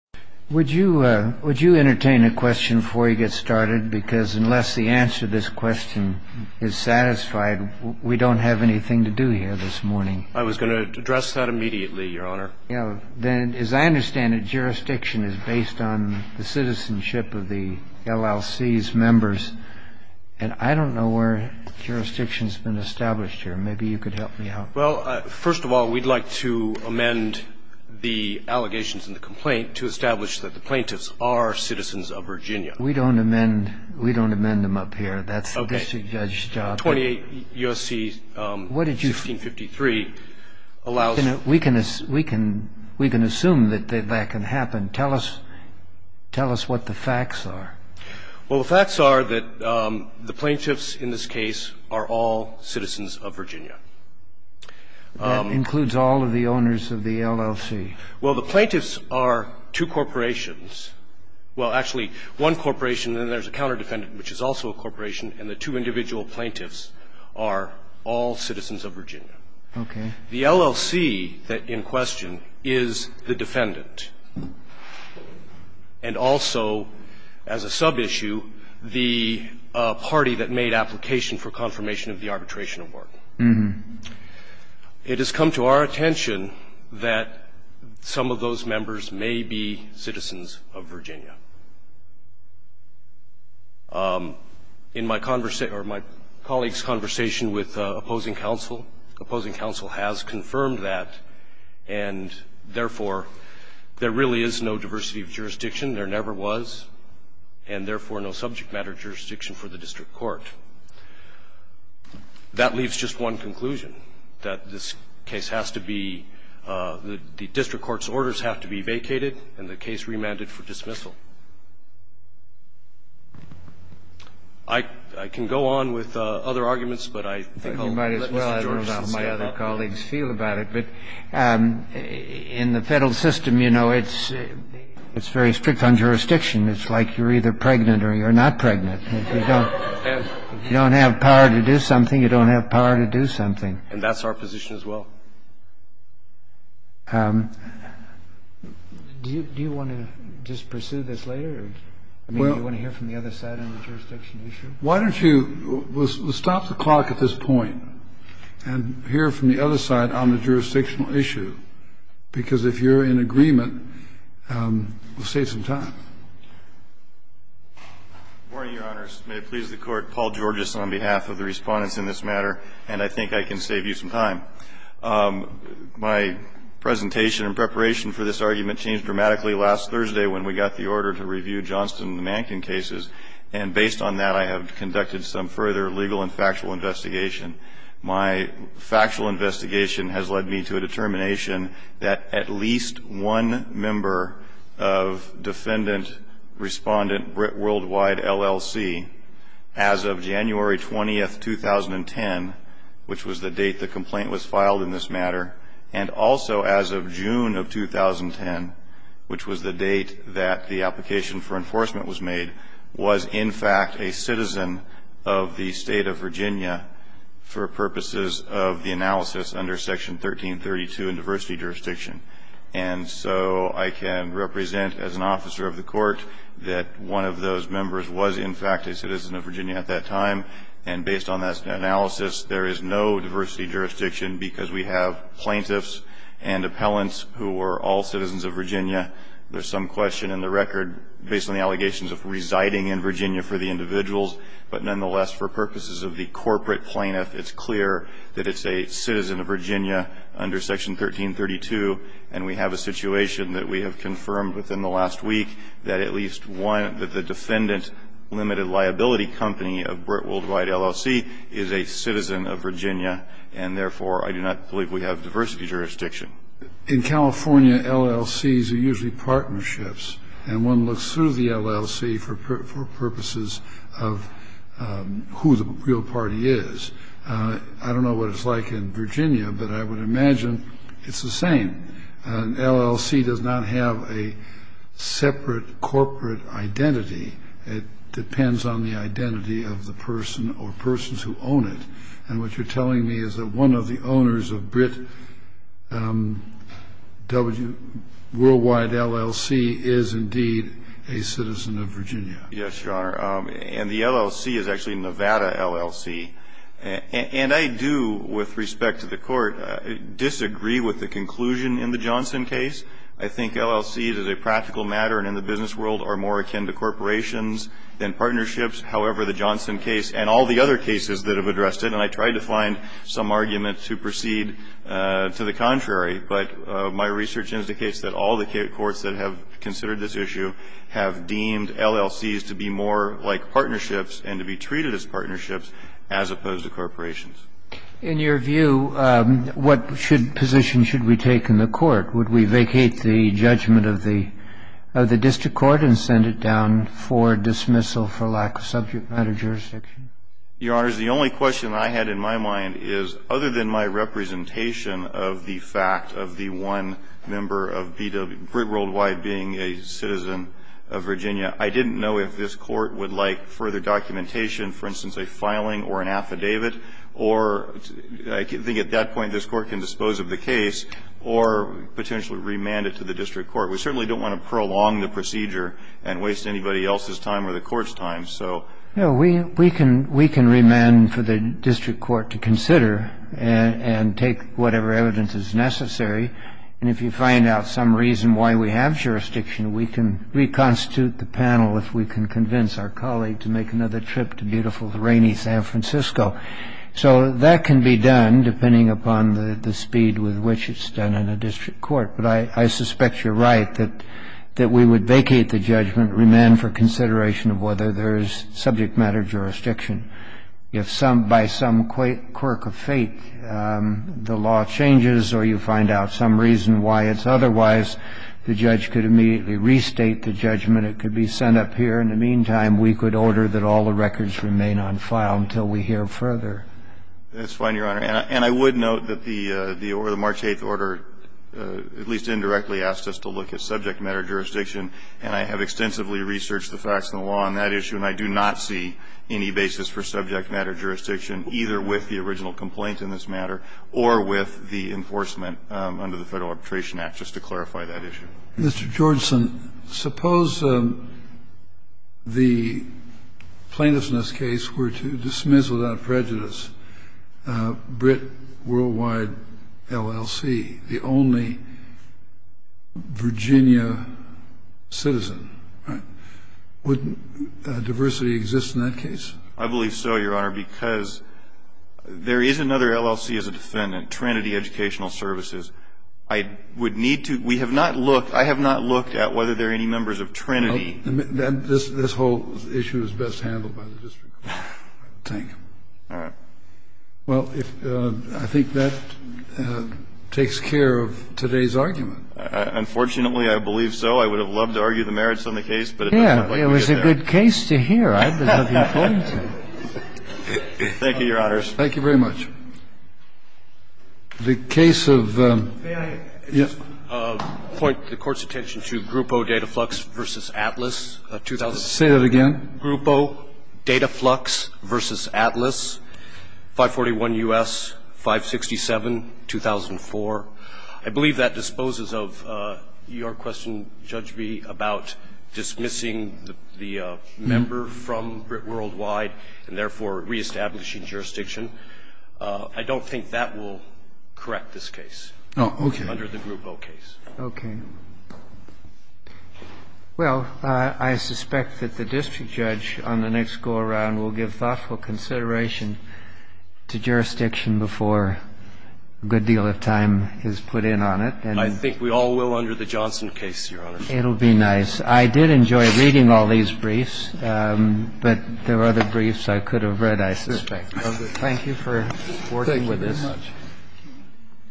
Would you entertain a question before you get started? Because unless the answer to this question is satisfied, we don't have anything to do here this morning. I was going to address that immediately, Your Honor. As I understand it, jurisdiction is based on the citizenship of the LLC's members, and I don't know where jurisdiction has been established here. Maybe you could help me out. Well, first of all, we'd like to amend the allegations in the complaint to establish that the plaintiffs are citizens of Virginia. We don't amend them up here. That's the district judge's job. Okay. 28 U.S.C. 1653 allows – We can assume that that can happen. Tell us what the facts are. Well, the facts are that the plaintiffs in this case are all citizens of Virginia. That includes all of the owners of the LLC. Well, the plaintiffs are two corporations. Well, actually, one corporation, then there's a counterdefendant, which is also a corporation, and the two individual plaintiffs are all citizens of Virginia. Okay. The LLC that's in question is the defendant and also, as a subissue, the party that made application for confirmation of the arbitration award. It has come to our attention that some of those members may be citizens of Virginia. In my colleague's conversation with opposing counsel, opposing counsel has confirmed that, and therefore, there really is no diversity of jurisdiction. There never was, and therefore, no subject matter jurisdiction for the district court. That leaves just one conclusion, that this case has to be – the district court's orders have to be vacated and the case remanded for dismissal. I can go on with other arguments, but I think I'll let Mr. George say about that. You might as well. I don't know how my other colleagues feel about it. But in the federal system, you know, it's very strict on jurisdiction. It's like you're either pregnant or you're not pregnant. If you don't have power to do something, you don't have power to do something. And that's our position as well. Do you want to just pursue this later, or do you want to hear from the other side on the jurisdiction issue? Why don't you stop the clock at this point and hear from the other side on the jurisdictional issue, because if you're in agreement, we'll save some time. Morning, Your Honors. May it please the Court, Paul Georgis on behalf of the Respondents in this matter, and I think I can save you some time. My presentation in preparation for this argument changed dramatically last Thursday when we got the order to review Johnston and Mankin cases. And based on that, I have conducted some further legal and factual investigation. My factual investigation has led me to a determination that at least one member of Defendant Respondent Brit Worldwide, LLC, as of January 20, 2010, which was the date the complaint was filed in this matter, and also as of June of 2010, which was the date that the application for enforcement was made, was, in fact, a citizen of the State of Virginia for purposes of the analysis under Section 1332 in diversity jurisdiction. And so I can represent as an officer of the Court that one of those members was, in fact, a citizen of Virginia at that time, and based on that analysis, there is no diversity jurisdiction because we have plaintiffs and appellants who were all citizens of Virginia. There's some question in the record based on the allegations of residing in Virginia for the individuals, but nonetheless, for purposes of the corporate plaintiff, it's clear that it's a citizen of Virginia, and we have a situation that we have confirmed within the last week that at least one of the Defendant Limited Liability Company of Brit Worldwide, LLC, is a citizen of Virginia, and therefore, I do not believe we have diversity jurisdiction. In California, LLCs are usually partnerships, and one looks through the LLC for purposes of who the real party is. I don't know what it's like in Virginia, but I would imagine it's the same. An LLC does not have a separate corporate identity. It depends on the identity of the person or persons who own it, and what you're telling me is that one of the owners of Brit Worldwide, LLC, is indeed a citizen of Virginia. Yes, Your Honor, and the LLC is actually Nevada, LLC, and I do, with respect to the Court, disagree with the conclusion in the Johnson case. I think LLCs, as a practical matter and in the business world, are more akin to corporations than partnerships. However, the Johnson case and all the other cases that have addressed it, and I tried to find some argument to proceed to the contrary, but my research indicates that all the courts that have considered this issue have deemed LLCs to be more like partnerships and to be treated as partnerships as opposed to corporations. In your view, what position should we take in the Court? Would we vacate the judgment of the district court and send it down for dismissal for lack of subject matter jurisdiction? Your Honors, the only question I had in my mind is, other than my representation of the fact of the one member of Brit Worldwide being a citizen of Virginia, I didn't know if this Court would like further documentation, for instance, a filing or an affidavit or, I think at that point, this Court can dispose of the case or potentially remand it to the district court. We certainly don't want to prolong the procedure and waste anybody else's time or the Court's time, so. No, we can remand for the district court to consider and take whatever evidence is necessary, and if you find out some reason why we have jurisdiction, we can reconstitute the panel if we can convince our colleague to make another trip to beautiful, rainy San Francisco. So that can be done depending upon the speed with which it's done in a district court, but I suspect you're right that we would vacate the judgment, remand for consideration of whether there is subject matter jurisdiction. If by some quirk of fate the law changes or you find out some reason why it's otherwise, the judge could immediately restate the judgment. It could be sent up here. In the meantime, we could order that all the records remain on file until we hear further. That's fine, Your Honor. And I would note that the March 8th order at least indirectly asked us to look at subject matter jurisdiction, and I have extensively researched the facts of the law on that issue, and I do not see any basis for subject matter jurisdiction either with the original Mr. Georgeson, suppose the plaintiffs in this case were to dismiss without prejudice Brit Worldwide LLC, the only Virginia citizen, right? Wouldn't diversity exist in that case? I believe so, Your Honor, because there is another LLC as a defendant, Trinity Educational Services. I would need to – we have not looked – I have not looked at whether there are any members of Trinity. This whole issue is best handled by the district court. Thank you. All right. Well, I think that takes care of today's argument. Unfortunately, I believe so. I would have loved to argue the merits on the case, but it doesn't look like we get there. Yeah. It was a good case to hear. There's nothing important to it. Thank you, Your Honors. Thank you very much. The case of the – May I just point the Court's attention to Grupo Dataflux v. Atlas? Say that again. Grupo Dataflux v. Atlas, 541 U.S., 567, 2004. I believe that disposes of your question, Judge B, about dismissing the member from Brit Worldwide and therefore reestablishing jurisdiction. I don't think that will correct this case. Oh, okay. Under the Grupo case. Okay. Well, I suspect that the district judge on the next go-around will give thoughtful consideration to jurisdiction before a good deal of time is put in on it. I think we all will under the Johnson case, Your Honor. It'll be nice. I did enjoy reading all these briefs, but there were other briefs I could have read, I suspect. Thank you for working with us.